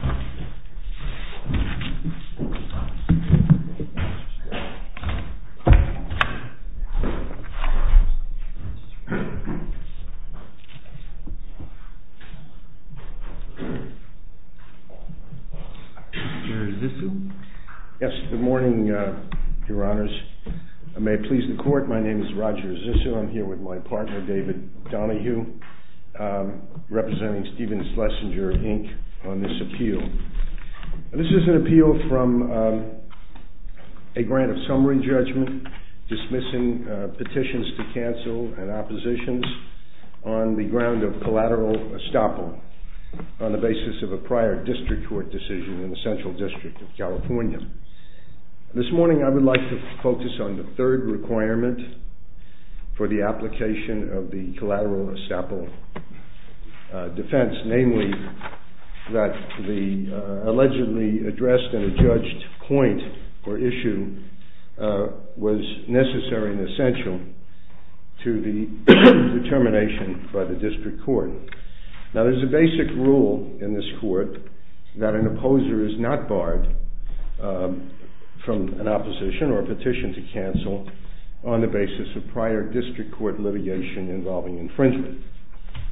ROGER ZISSU Good morning, Your Honors. I'm here with my partner, David Donahue, representing Stephen Schlesinger, Inc., on this appeal. This is an appeal from a grant of summary judgment dismissing petitions to cancel and oppositions on the ground of collateral estoppel on the basis of a prior district court decision in the Central District of California. This morning I would like to focus on the third requirement for the application of the collateral estoppel defense, namely that the allegedly addressed and adjudged point or issue was necessary and essential to the determination by the district court. Now there's a basic rule in this court that an opposer is not barred from an opposition or a petition to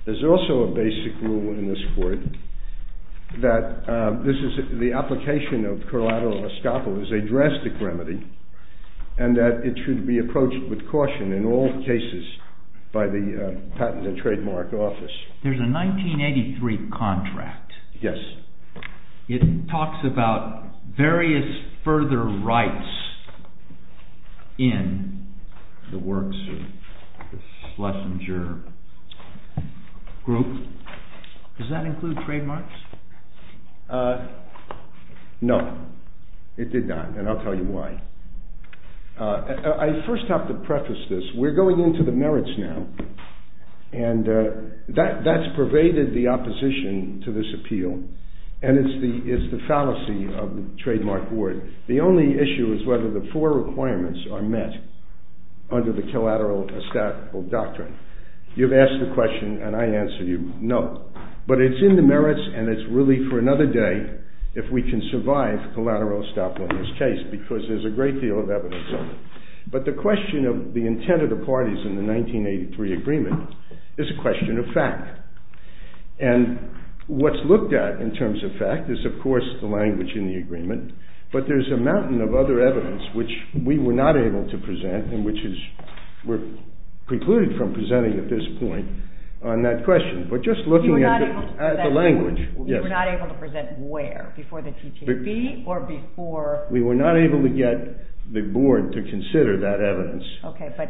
There's also a basic rule in this court that the application of collateral estoppel is a drastic remedy and that it should be approached with caution in all cases by the Patent and Trademark Office. There's a 1983 contract. It talks about various further rights in the works of the Schlesinger group. Does that include trademarks? No, it did not, and I'll tell you why. I first have to preface this. We're going into the merits now, and that's pervaded the opposition to this appeal, and it's the fallacy of the Trademark Board. The only issue is whether the four requirements are met under the collateral estoppel doctrine. You've asked the question, and I answer you, no. But it's in the merits, and it's really for another day if we can survive collateral estoppel in this case, because there's a great deal of evidence of it. But the question of the intent of the parties in the 1983 agreement is a question of fact, and what's looked at in terms of fact is of course the language in the agreement, but there's a mountain of other evidence which we were not able to present and which were precluded from presenting at this point on that question. You were not able to present where? Before the TTAB or before? We were not able to get the board to consider that evidence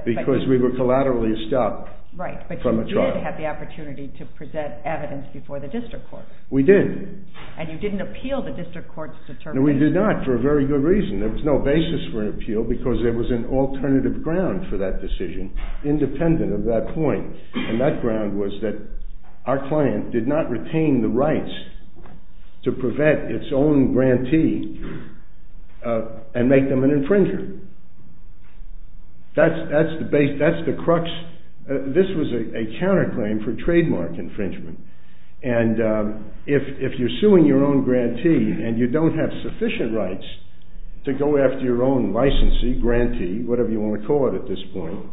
because we were collaterally estopped from a trial. Right, but you did have the opportunity to present evidence before the district court. We did. And you didn't appeal the district court's determination. No, we did not for a very good reason. There was no basis for an appeal because there was an alternative ground for that decision, independent of that point. And that ground was that our client did not retain the rights to prevent its own grantee and make them an infringer. That's the crux. This was a counterclaim for trademark infringement. And if you're suing your own grantee and you don't have sufficient rights to go after your own licensee, grantee, whatever you want to call it at this point,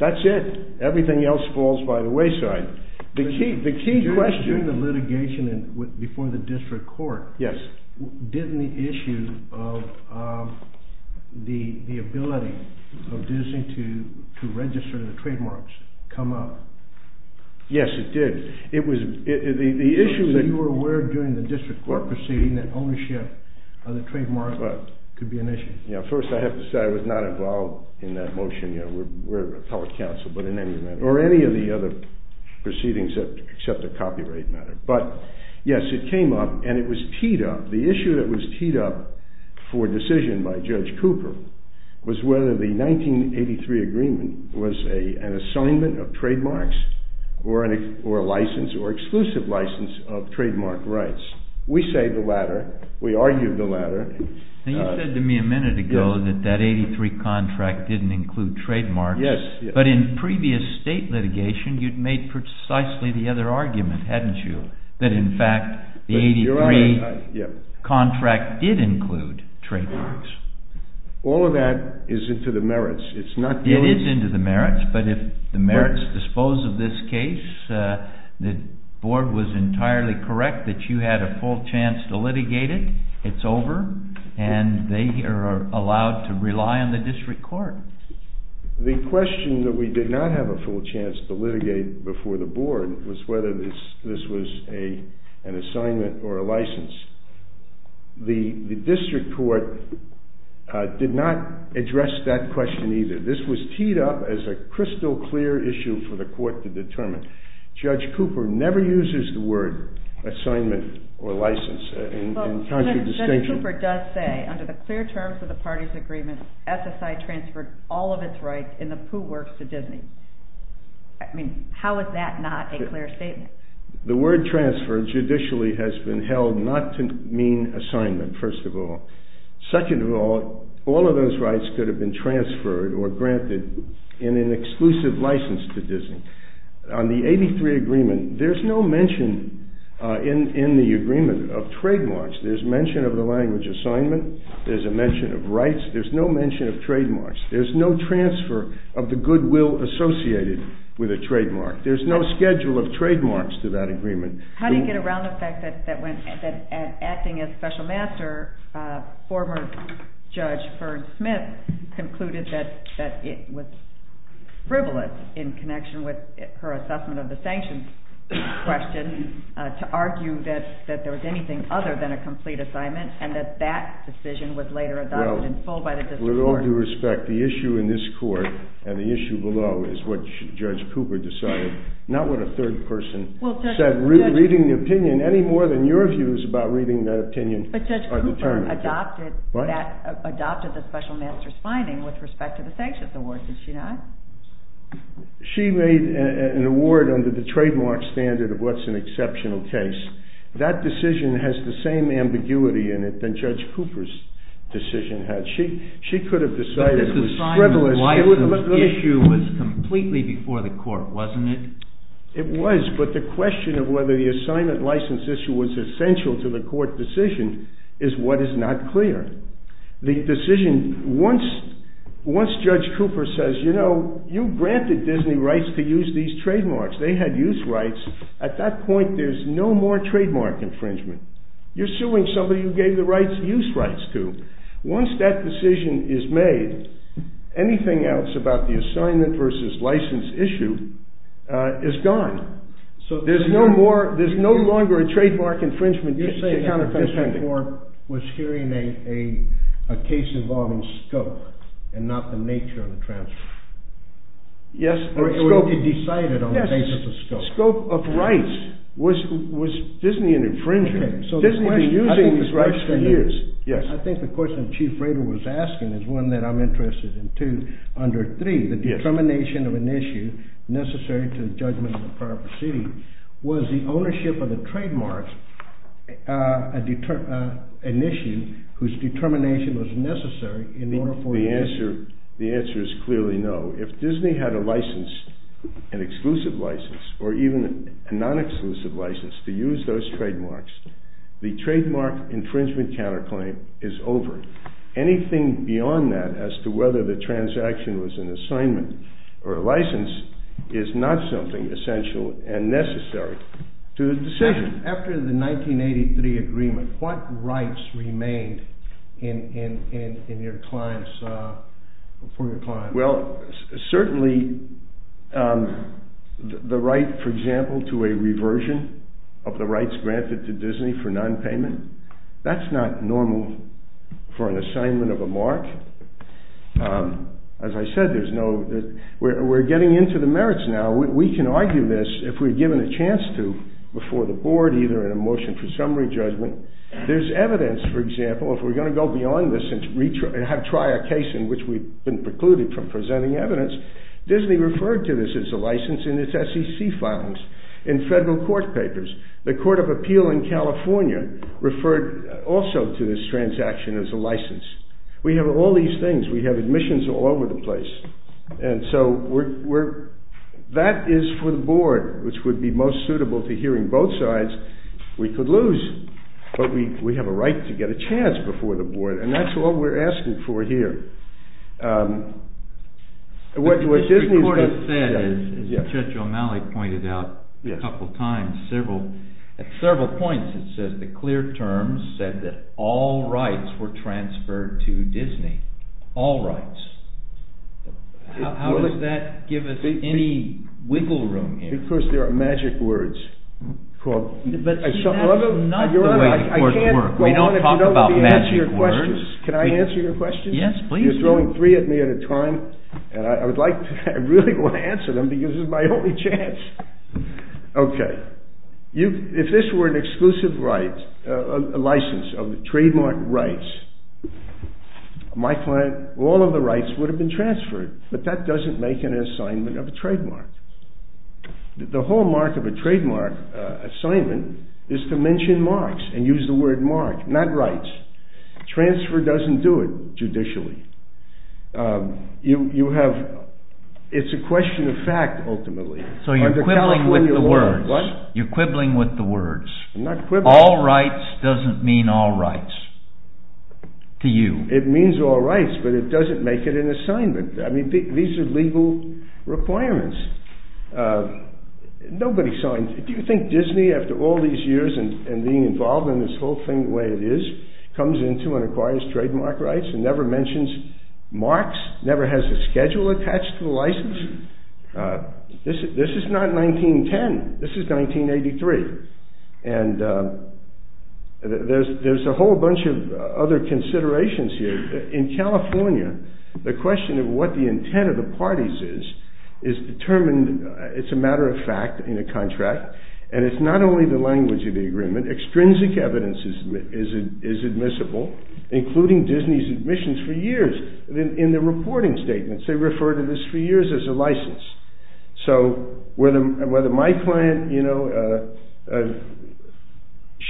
that's it. Everything else falls by the wayside. But during the litigation before the district court, didn't the issue of the ability of Disney to register the trademarks come up? Yes, it did. You were aware during the district court proceeding that ownership of the trademark could be an issue. First, I have to say I was not involved in that motion. We're a public council, but in any matter, or any of the other proceedings except the copyright matter. But yes, it came up and it was teed up. The issue that was teed up for decision by Judge Cooper was whether the 1983 agreement was an assignment of trademarks or a license or exclusive license of trademark rights. We say the latter. We argued the latter. You said to me a minute ago that that 1983 contract didn't include trademarks. Yes. But in previous state litigation, you'd made precisely the other argument, hadn't you, that in fact the 1983 contract did include trademarks. All of that is into the merits. It's not yours. And they are allowed to rely on the district court. The question that we did not have a full chance to litigate before the board was whether this was an assignment or a license. The district court did not address that question either. This was teed up as a crystal clear issue for the court to determine. Judge Cooper never uses the word assignment or license. Judge Cooper does say, under the clear terms of the party's agreement, SSI transferred all of its rights in the Pooh Works to Disney. I mean, how is that not a clear statement? The word transfer judicially has been held not to mean assignment, first of all. Second of all, all of those rights could have been transferred or granted in an exclusive license to Disney. On the 83 agreement, there's no mention in the agreement of trademarks. There's mention of the language assignment. There's a mention of rights. There's no mention of trademarks. There's no transfer of the goodwill associated with a trademark. There's no schedule of trademarks to that agreement. How do you get around the fact that acting as special master, former Judge Fern Smith, concluded that it was frivolous in connection with her assessment of the sanctions question to argue that there was anything other than a complete assignment and that that decision was later adopted in full by the district court? Well, with all due respect, the issue in this court and the issue below is what Judge Cooper decided, not what a third person said. Reading the opinion, any more than your views about reading that opinion are determined. But Judge Cooper adopted the special master's finding with respect to the sanctions award, did she not? She made an award under the trademark standard of what's an exceptional case. That decision has the same ambiguity in it than Judge Cooper's decision had. She could have decided it was frivolous. The license issue was completely before the court, wasn't it? It was, but the question of whether the assignment license issue was essential to the court decision is what is not clear. The decision, once Judge Cooper says, you know, you granted Disney rights to use these trademarks. They had use rights. At that point, there's no more trademark infringement. You're suing somebody who gave the rights, use rights to. Once that decision is made, anything else about the assignment versus license issue is gone. So there's no more, there's no longer a trademark infringement. You're saying that the district court was hearing a case involving scope and not the nature of the transfer. Yes, scope. Or it would be decided on the basis of scope. Yes, scope of rights was Disney an infringer. Disney had been using these rights for years. I think the question Chief Rader was asking is one that I'm interested in too. Under three, the determination of an issue necessary to the judgment of the proper city. Was the ownership of the trademark an issue whose determination was necessary in order for. The answer is clearly no. If Disney had a license, an exclusive license, or even a non-exclusive license to use those trademarks, the trademark infringement counterclaim is over. Anything beyond that as to whether the transaction was an assignment or a license is not something essential and necessary to the decision. After the 1983 agreement, what rights remained in your clients, for your clients? Well, certainly the right, for example, to a reversion of the rights granted to Disney for non-payment. That's not normal for an assignment of a mark. As I said, we're getting into the merits now. We can argue this if we're given a chance to before the board, either in a motion for summary judgment. There's evidence, for example, if we're going to go beyond this and try a case in which we've been precluded from presenting evidence. Disney referred to this as a license in its SEC files, in federal court papers. The Court of Appeal in California referred also to this transaction as a license. We have all these things. We have admissions all over the place. And so that is for the board, which would be most suitable to hearing both sides. We could lose, but we have a right to get a chance before the board, and that's all we're asking for here. As Judge O'Malley pointed out a couple of times, at several points it says the clear terms said that all rights were transferred to Disney. All rights. How does that give us any wiggle room here? Of course, there are magic words. But that's not the way the courts work. We don't talk about magic words. Can I answer your question? Yes, please do. You're throwing three at me at a time, and I really want to answer them because this is my only chance. Okay. If this were an exclusive license of trademark rights, all of the rights would have been transferred. But that doesn't make an assignment of a trademark. The hallmark of a trademark assignment is to mention marks and use the word mark, not rights. Transfer doesn't do it, judicially. It's a question of fact, ultimately. So you're quibbling with the words. What? You're quibbling with the words. I'm not quibbling. All rights doesn't mean all rights to you. It means all rights, but it doesn't make it an assignment. I mean, these are legal requirements. Do you think Disney, after all these years and being involved in this whole thing the way it is, comes into and acquires trademark rights and never mentions marks, never has a schedule attached to the license? This is not 1910. This is 1983. And there's a whole bunch of other considerations here. In California, the question of what the intent of the parties is, is determined. It's a matter of fact in a contract. And it's not only the language of the agreement. Extrinsic evidence is admissible, including Disney's admissions for years. In the reporting statements, they refer to this for years as a license. So whether my client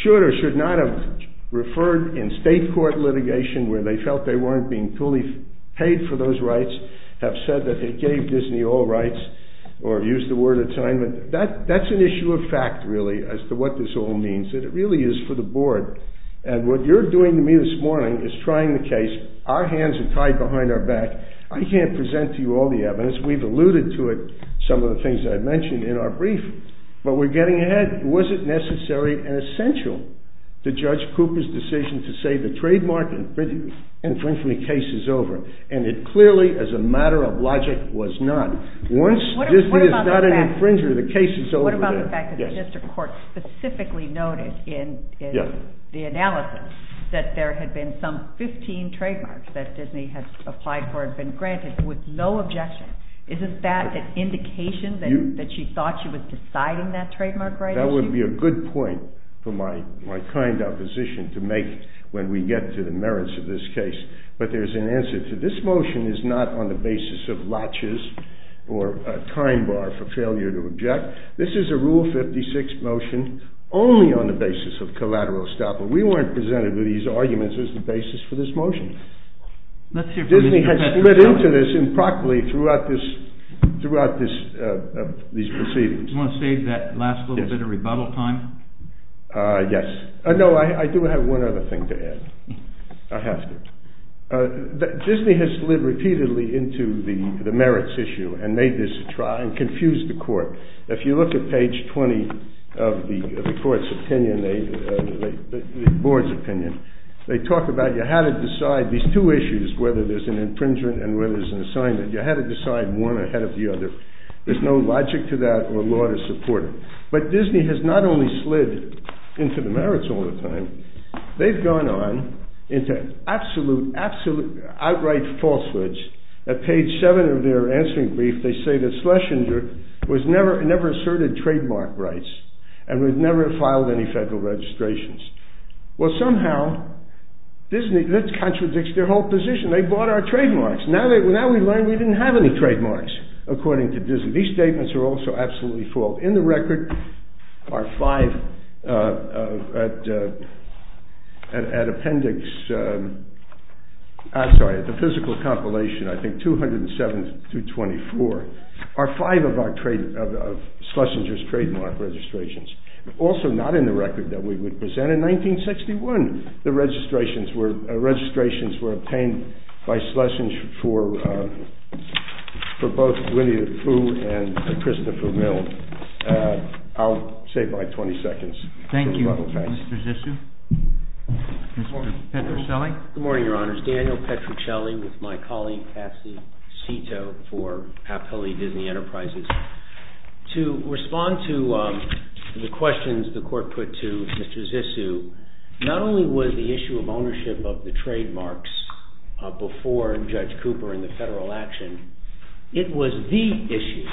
should or should not have referred in state court litigation where they felt they weren't being fully paid for those rights, have said that they gave Disney all rights or used the word assignment, that's an issue of fact, really, as to what this all means. It really is for the board. And what you're doing to me this morning is trying the case. Our hands are tied behind our back. I can't present to you all the evidence. We've alluded to it, some of the things I've mentioned in our brief. But we're getting ahead. Was it necessary and essential to Judge Cooper's decision to say the trademark infringement case is over? And it clearly, as a matter of logic, was not. Once Disney is not an infringer, the case is over. What about the fact that the district court specifically noted in the analysis that there had been some 15 trademarks that Disney had applied for and granted with no objection? Isn't that an indication that she thought she was deciding that trademark right? That would be a good point for my kind opposition to make when we get to the merits of this case. But there's an answer to it. This motion is not on the basis of latches or a time bar for failure to object. This is a Rule 56 motion only on the basis of collateral estoppel. We weren't presented with these arguments as the basis for this motion. Disney has slid into this improperly throughout these proceedings. Do you want to save that last little bit of rebuttal time? Yes. No, I do have one other thing to add. I have to. Disney has slid repeatedly into the merits issue and made this trial and confused the court. If you look at page 20 of the court's opinion, the board's opinion, they talk about you had to decide these two issues, whether there's an infringement and whether there's an assignment. You had to decide one ahead of the other. There's no logic to that or law to support it. But Disney has not only slid into the merits all the time, they've gone on into absolute, outright falsehoods. At page 7 of their answering brief, they say that Schlesinger never asserted trademark rights and would never have filed any federal registrations. Well, somehow, this contradicts their whole position. They bought our trademarks. Now we learn we didn't have any trademarks, according to Disney. These statements are also absolutely false. In the record, our five appendix, I'm sorry, the physical compilation, I think 207 through 24, are five of Schlesinger's trademark registrations. Also, not in the record that we would present. In 1961, the registrations were obtained by Schlesinger for both Winnie the Pooh and Christopher Milne. I'll save my 20 seconds. Thank you, Mr. Zissou. Mr. Petruccelli. Good morning, Your Honors. Daniel Petruccelli with my colleague, Cassie Cito for Papkalee Disney Enterprises. To respond to the questions the court put to Mr. Zissou, not only was the issue of ownership of the trademarks before Judge Cooper and the federal action, it was the issue,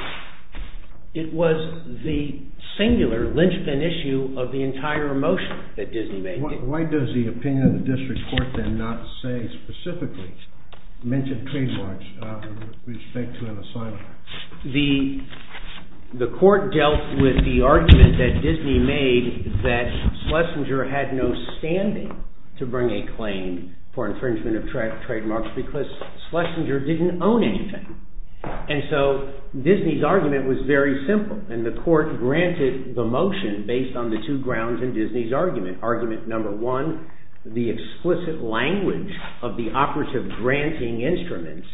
it was the singular linchpin issue of the entire motion that Disney made. Why does the opinion of the district court then not say specifically, mention trademarks with respect to an assignment? The court dealt with the argument that Disney made that Schlesinger had no standing to bring a claim for infringement of trademarks because Schlesinger didn't own anything. And so, Disney's argument was very simple, and the court granted the motion based on the two grounds in Disney's argument. Argument number one, the explicit language of the operative granting instruments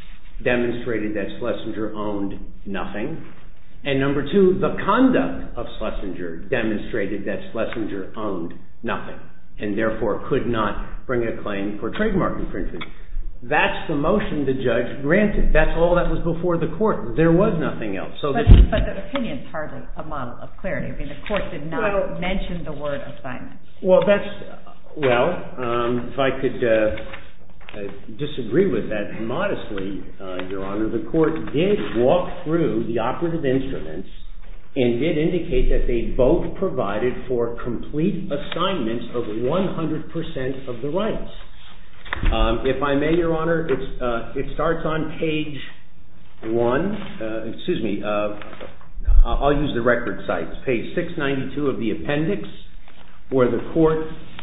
demonstrated that Schlesinger owned nothing. And number two, the conduct of Schlesinger demonstrated that Schlesinger owned nothing and therefore could not bring a claim for trademark infringement. That's the motion the judge granted. That's all that was before the court. There was nothing else. But the opinion is hardly a model of clarity. I mean, the court did not mention the word assignment. Well, if I could disagree with that modestly, Your Honor, the court did walk through the operative instruments and did indicate that they both provided for complete assignments of 100% of the rights. If I may, Your Honor, it starts on page 1. Excuse me. I'll use the record sites. That's page 692 of the appendix where the court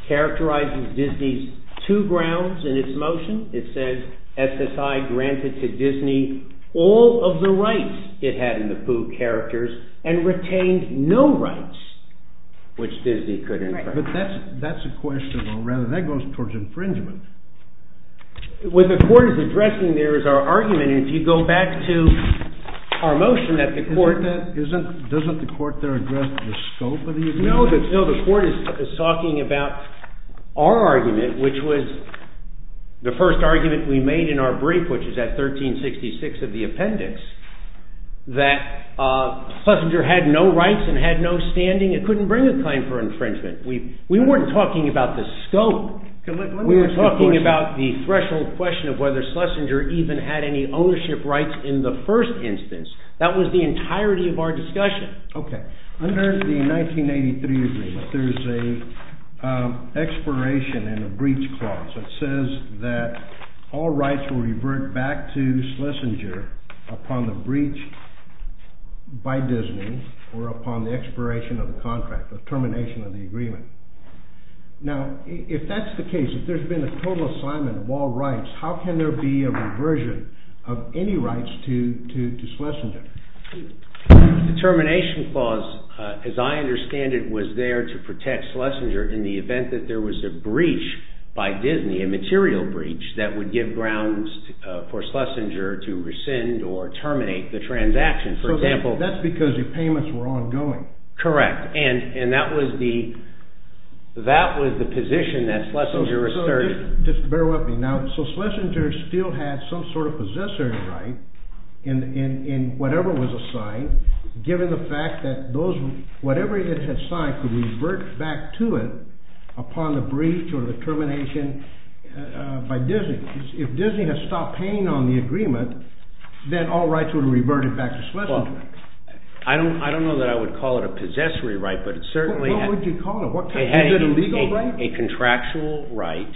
characterizes Disney's two grounds in its motion. It says SSI granted to Disney all of the rights it had in the Pooh characters and retained no rights which Disney could infer. But that's a question, or rather that goes towards infringement. What the court is addressing there is our argument, and if you go back to our motion that the court doesn't address the scope of the agreement? No, the court is talking about our argument, which was the first argument we made in our brief, which is at 1366 of the appendix, that Schlesinger had no rights and had no standing. It couldn't bring a claim for infringement. We weren't talking about the scope. We were talking about the threshold question of whether Schlesinger even had any ownership rights in the first instance. That was the entirety of our discussion. Okay. Under the 1983 agreement, there's an expiration and a breach clause that says that all rights will revert back to Schlesinger upon the breach by Disney or upon the expiration of the contract, the termination of the agreement. Now, if that's the case, if there's been a total assignment of all rights, how can there be a reversion of any rights to Schlesinger? The termination clause, as I understand it, was there to protect Schlesinger in the event that there was a breach by Disney, a material breach, that would give grounds for Schlesinger to rescind or terminate the transaction. That's because your payments were ongoing. Correct, and that was the position that Schlesinger asserted. Just bear with me. Now, so Schlesinger still had some sort of possessory right in whatever was assigned, given the fact that whatever it had signed could revert back to it upon the breach or the termination by Disney. If Disney had stopped paying on the agreement, then all rights would have reverted back to Schlesinger. I don't know that I would call it a possessory right, but it certainly had… What would you call it? Was it a legal right? A contractual right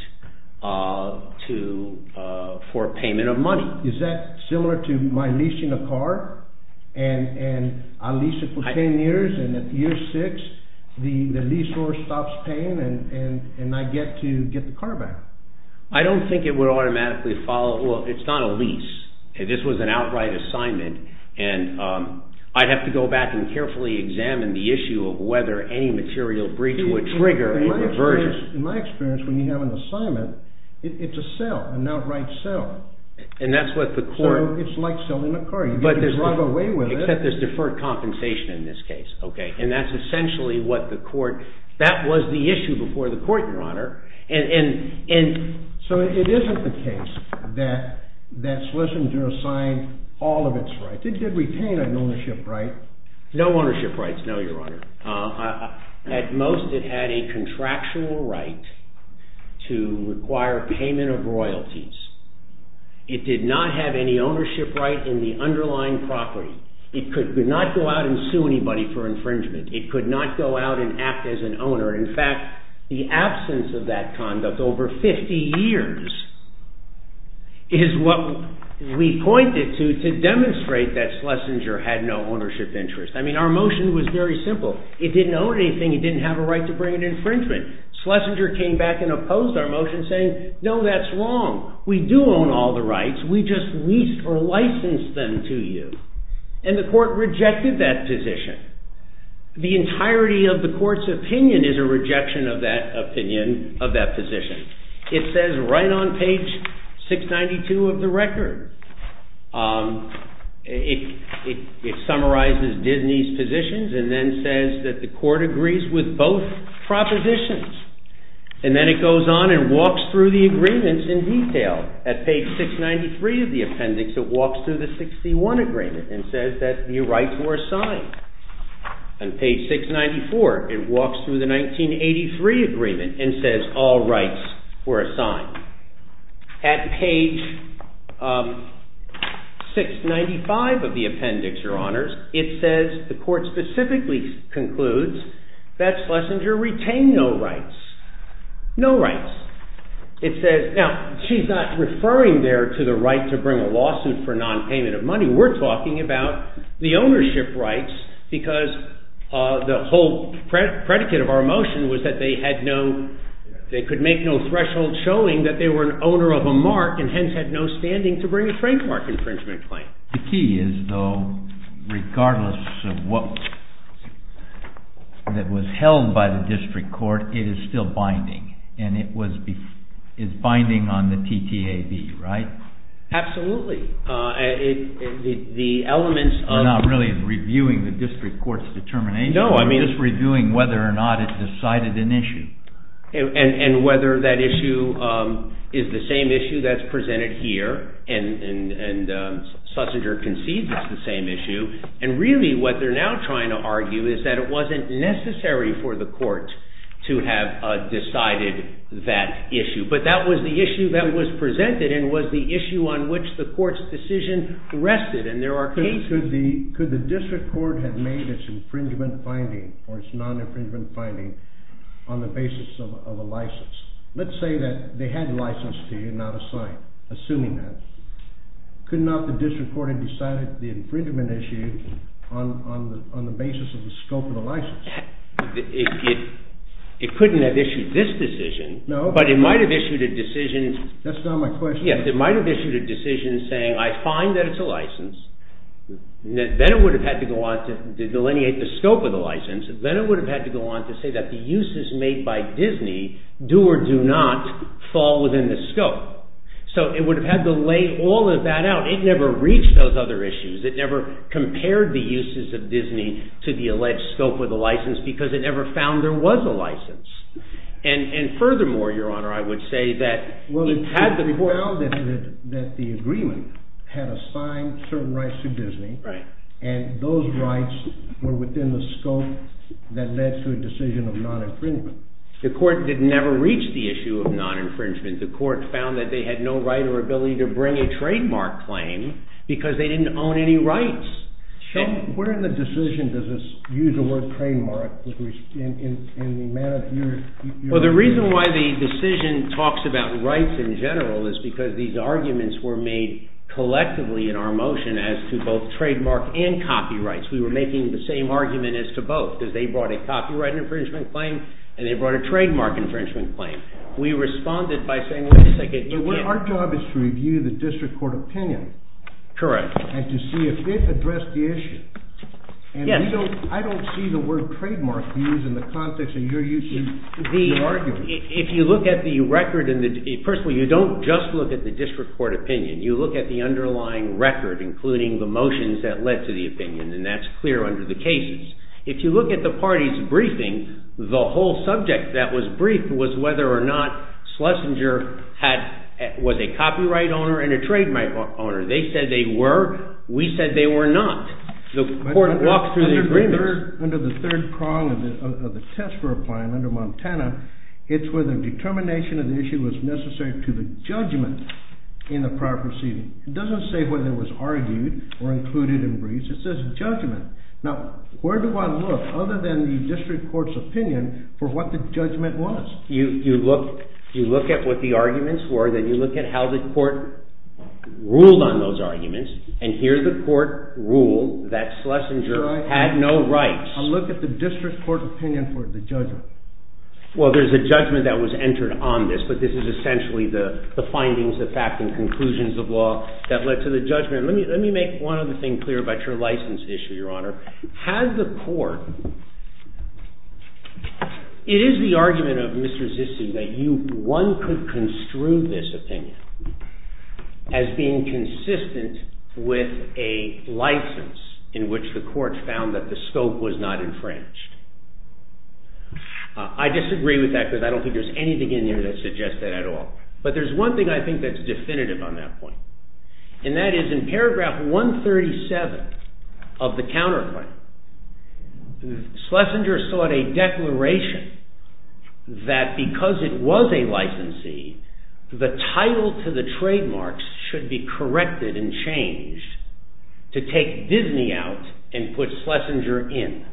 for payment of money. Is that similar to my leasing a car, and I lease it for 10 years, and at year six the lease holder stops paying and I get to get the car back? I don't think it would automatically follow. Well, it's not a lease. This was an outright assignment, and I'd have to go back and carefully examine the issue of whether any material breach would trigger a diversion. In my experience, when you have an assignment, it's a sale, an outright sale. And that's what the court… So it's like selling a car. You get to drive away with it. Except there's deferred compensation in this case, okay? And that's essentially what the court… That was the issue before the court, Your Honor. So it isn't the case that Schlesinger assigned all of its rights. It did retain an ownership right. No ownership rights, no, Your Honor. At most, it had a contractual right to require payment of royalties. It did not have any ownership right in the underlying property. It could not go out and sue anybody for infringement. It could not go out and act as an owner. In fact, the absence of that conduct over 50 years is what we pointed to to demonstrate that Schlesinger had no ownership interest. I mean, our motion was very simple. It didn't own anything. It didn't have a right to bring an infringement. Schlesinger came back and opposed our motion saying, no, that's wrong. We do own all the rights. We just leased or licensed them to you. And the court rejected that position. The entirety of the court's opinion is a rejection of that position. It says right on page 692 of the record, it summarizes Disney's positions and then says that the court agrees with both propositions. And then it goes on and walks through the agreements in detail. At page 693 of the appendix, it walks through the 61 agreement and says that the rights were assigned. On page 694, it walks through the 1983 agreement and says, all rights were assigned. At page 695 of the appendix, your honors, it says the court specifically concludes that Schlesinger retained no rights. No rights. Now, she's not referring there to the right to bring a lawsuit for nonpayment of money. We're talking about the ownership rights because the whole predicate of our motion was that they could make no threshold showing that they were an owner of a mark and hence had no standing to bring a trademark infringement claim. The key is, though, regardless of what was held by the district court, it is still binding. And it's binding on the TTAB, right? Absolutely. We're not really reviewing the district court's determination. We're just reviewing whether or not it decided an issue. And whether that issue is the same issue that's presented here, and Schlesinger concedes it's the same issue, and really what they're now trying to argue is that it wasn't necessary for the court to have decided that issue. But that was the issue that was presented and was the issue on which the court's decision rested. Could the district court have made its infringement finding or its non-infringement finding on the basis of a license? Let's say that they had a license to you, not a sign, assuming that. Could not the district court have decided the infringement issue on the basis of the scope of the license? It couldn't have issued this decision, but it might have issued a decision. That's not my question. It might have issued a decision saying, I find that it's a license. Then it would have had to go on to delineate the scope of the license. Then it would have had to go on to say that the uses made by Disney do or do not fall within the scope. So it would have had to lay all of that out. It never reached those other issues. It never compared the uses of Disney to the alleged scope of the license because it never found there was a license. And furthermore, your honor, I would say that it had to be found that the agreement had assigned certain rights to Disney and those rights were within the scope that led to a decision of non-infringement. The court did never reach the issue of non-infringement. The court found that they had no right or ability to bring a trademark claim because they didn't own any rights. So where in the decision does this use the word trademark in the manner that you're arguing? Well, the reason why the decision talks about rights in general is because these arguments were made collectively in our motion as to both trademark and copyrights. We were making the same argument as to both because they brought a copyright infringement claim and they brought a trademark infringement claim. We responded by saying, wait a second. Our job is to review the district court opinion. Correct. And to see if it addressed the issue. I don't see the word trademark used in the context of your argument. If you look at the record, first of all, you don't just look at the district court opinion. You look at the underlying record, including the motions that led to the opinion and that's clear under the cases. If you look at the party's briefing, the whole subject that was briefed was whether or not Schlesinger was a copyright owner and a trademark owner. They said they were. We said they were not. The court walked through the agreement. Under the third prong of the test we're applying under Montana, it's where the determination of the issue was necessary to the judgment in the prior proceeding. It doesn't say whether it was argued or included in briefs. It says judgment. Now, where do I look other than the district court's opinion for what the judgment was? You look at what the arguments were. Then you look at how the court ruled on those arguments and here the court ruled that Schlesinger had no rights. I look at the district court opinion for the judgment. Well, there's a judgment that was entered on this, but this is essentially the findings, the facts, and conclusions of law that led to the judgment. Let me make one other thing clear about your license issue, Your Honor. Had the court, it is the argument of Mr. Zissou that one could construe this opinion as being consistent with a license in which the court found that the scope was not infringed. I disagree with that because I don't think there's anything in there that suggests that at all. But there's one thing I think that's definitive on that point and that is in paragraph 137 of the counterclaim, Schlesinger sought a declaration that because it was a licensee, the title to the trademarks should be corrected and changed to take Disney out and put Schlesinger in.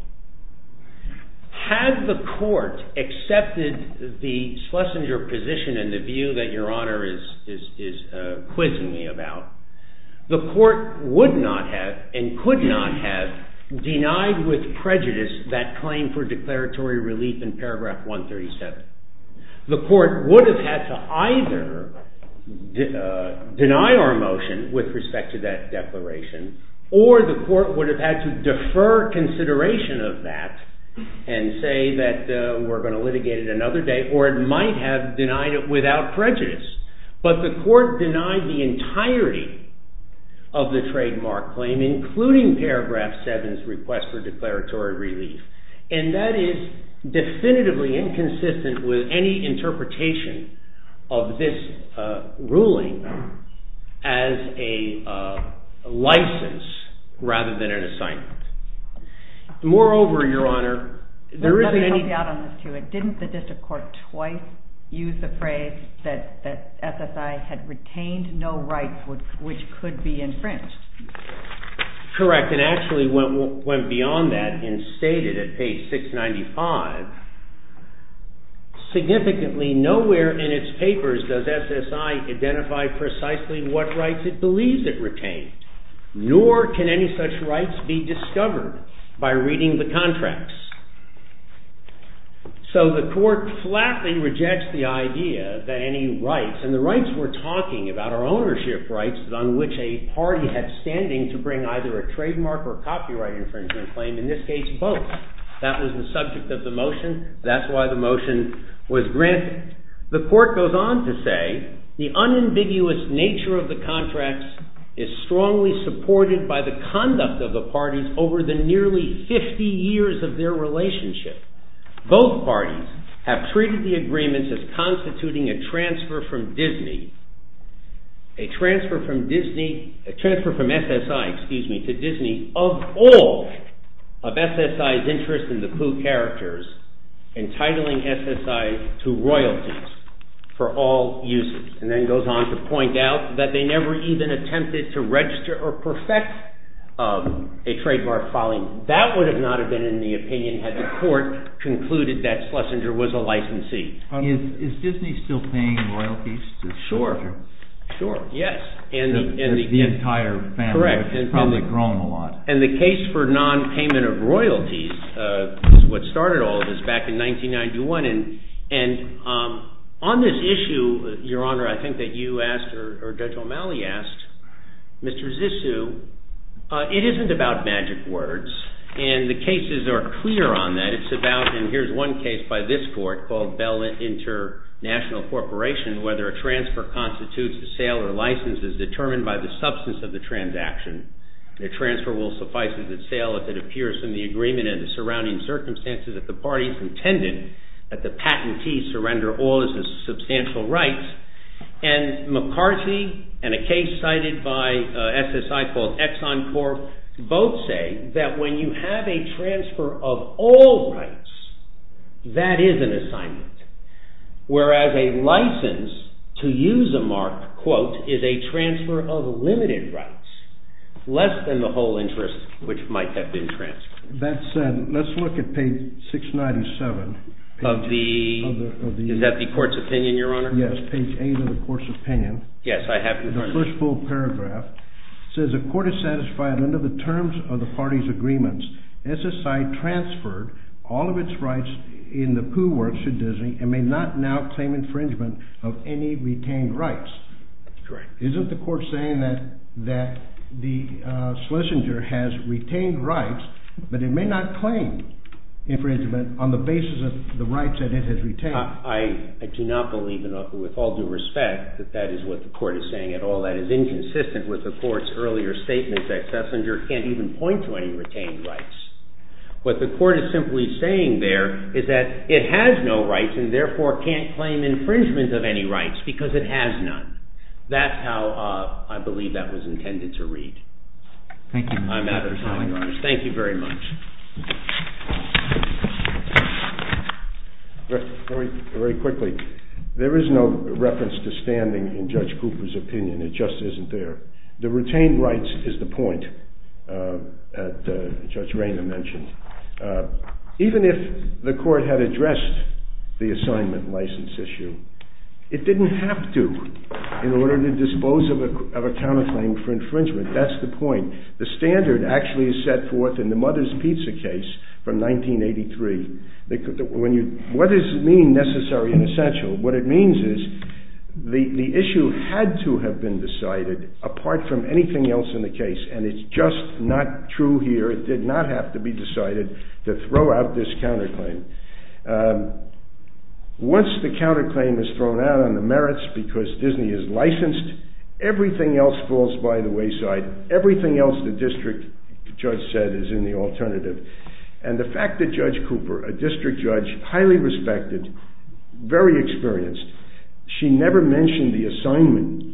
Had the court accepted the Schlesinger position and the view that Your Honor is quizzing me about, the court would not have and could not have denied with prejudice that claim for declaratory relief in paragraph 137. The court would have had to either deny our motion with respect to that declaration or the court would have had to defer consideration of that and say that we're going to litigate it another day or it might have denied it without prejudice. But the court denied the entirety of the trademark claim including paragraph 7's request for declaratory relief and that is definitively inconsistent with any interpretation of this ruling as a license rather than an assignment. Moreover, Your Honor, there isn't any... Let me jump out on this too. Didn't the district court twice use the phrase that SSI had retained no rights which could be infringed? Correct, and actually went beyond that and stated at page 695, significantly nowhere in its papers does SSI identify precisely what rights it believes it retained nor can any such rights be discovered by reading the contracts. So the court flatly rejects the idea that any rights, and the rights we're talking about are ownership rights on which a party has standing to bring either a trademark or copyright infringement claim, in this case both. That was the subject of the motion. That's why the motion was granted. The court goes on to say, the unambiguous nature of the contracts is strongly supported by the conduct of the parties over the nearly 50 years of their relationship. Both parties have treated the agreements as constituting a transfer from Disney, a transfer from SSI to Disney of all of SSI's interest in the Pooh characters, entitling SSI to royalties for all uses, and then goes on to point out that they never even attempted to register or perfect a trademark filing. That would not have been in the opinion had the court concluded that Schlesinger was a licensee. Is Disney still paying royalties to Schlesinger? Sure, sure, yes. The entire family has probably grown a lot. And the case for non-payment of royalties is what started all of this back in 1991, and on this issue, Your Honor, I think that you asked, or Judge O'Malley asked, Mr. Zissou, it isn't about magic words, and the cases are clear on that. It's about, and here's one case by this court called Bell International Corporation, whether a transfer constitutes a sale or license is determined by the substance of the transaction. The transfer will suffice as a sale if it appears in the agreement and the surrounding circumstances that the parties intended that the patentee surrender all of his substantial rights. And McCarthy and a case cited by SSI called Exxon Corp both say that when you have a transfer of all rights, that is an assignment, whereas a license to use a mark, quote, is a transfer of limited rights, less than the whole interest which might have been transferred. That said, let's look at page 697. Of the, is that the court's opinion, Your Honor? Yes, page 8 of the court's opinion. Yes, I have, Your Honor. The first full paragraph says, the court is satisfied under the terms of the parties' agreements SSI transferred all of its rights in the Pooh Works to Disney and may not now claim infringement of any retained rights. Correct. Isn't the court saying that the Schlesinger has retained rights, but it may not claim infringement on the basis of the rights that it has retained? I do not believe, with all due respect, that that is what the court is saying at all. That is inconsistent with the court's earlier statement that Schlesinger can't even point to any retained rights. What the court is simply saying there is that it has no rights and therefore can't claim infringement of any rights because it has none. That's how I believe that was intended to read. Thank you, Your Honor. I'm out of time, Your Honor. Thank you very much. Very quickly. There is no reference to standing in Judge Cooper's opinion. It just isn't there. The retained rights is the point that Judge Rayner mentioned. Even if the court had addressed the assignment license issue, it didn't have to in order to dispose of a counterclaim for infringement. That's the point. The standard actually is set forth in the Mother's Pizza case from 1983. What does it mean, necessary and essential? What it means is the issue had to have been decided apart from anything else in the case, and it's just not true here. It did not have to be decided to throw out this counterclaim. Once the counterclaim is thrown out on the merits because Disney is licensed, everything else falls by the wayside. Everything else the district judge said is in the alternative. And the fact that Judge Cooper, a district judge, highly respected, very experienced, she never mentioned the assignment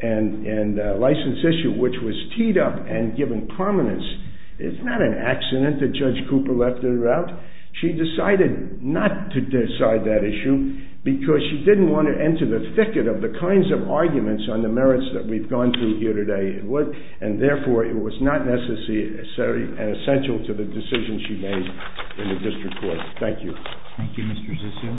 and license issue, which was teed up and given prominence. It's not an accident that Judge Cooper left it out. She decided not to decide that issue because she didn't want to enter the thicket of the kinds of arguments on the merits that we've gone through here today, and therefore it was not necessary and essential to the decision she made in the district court. Thank you. Thank you, Mr. Zissou.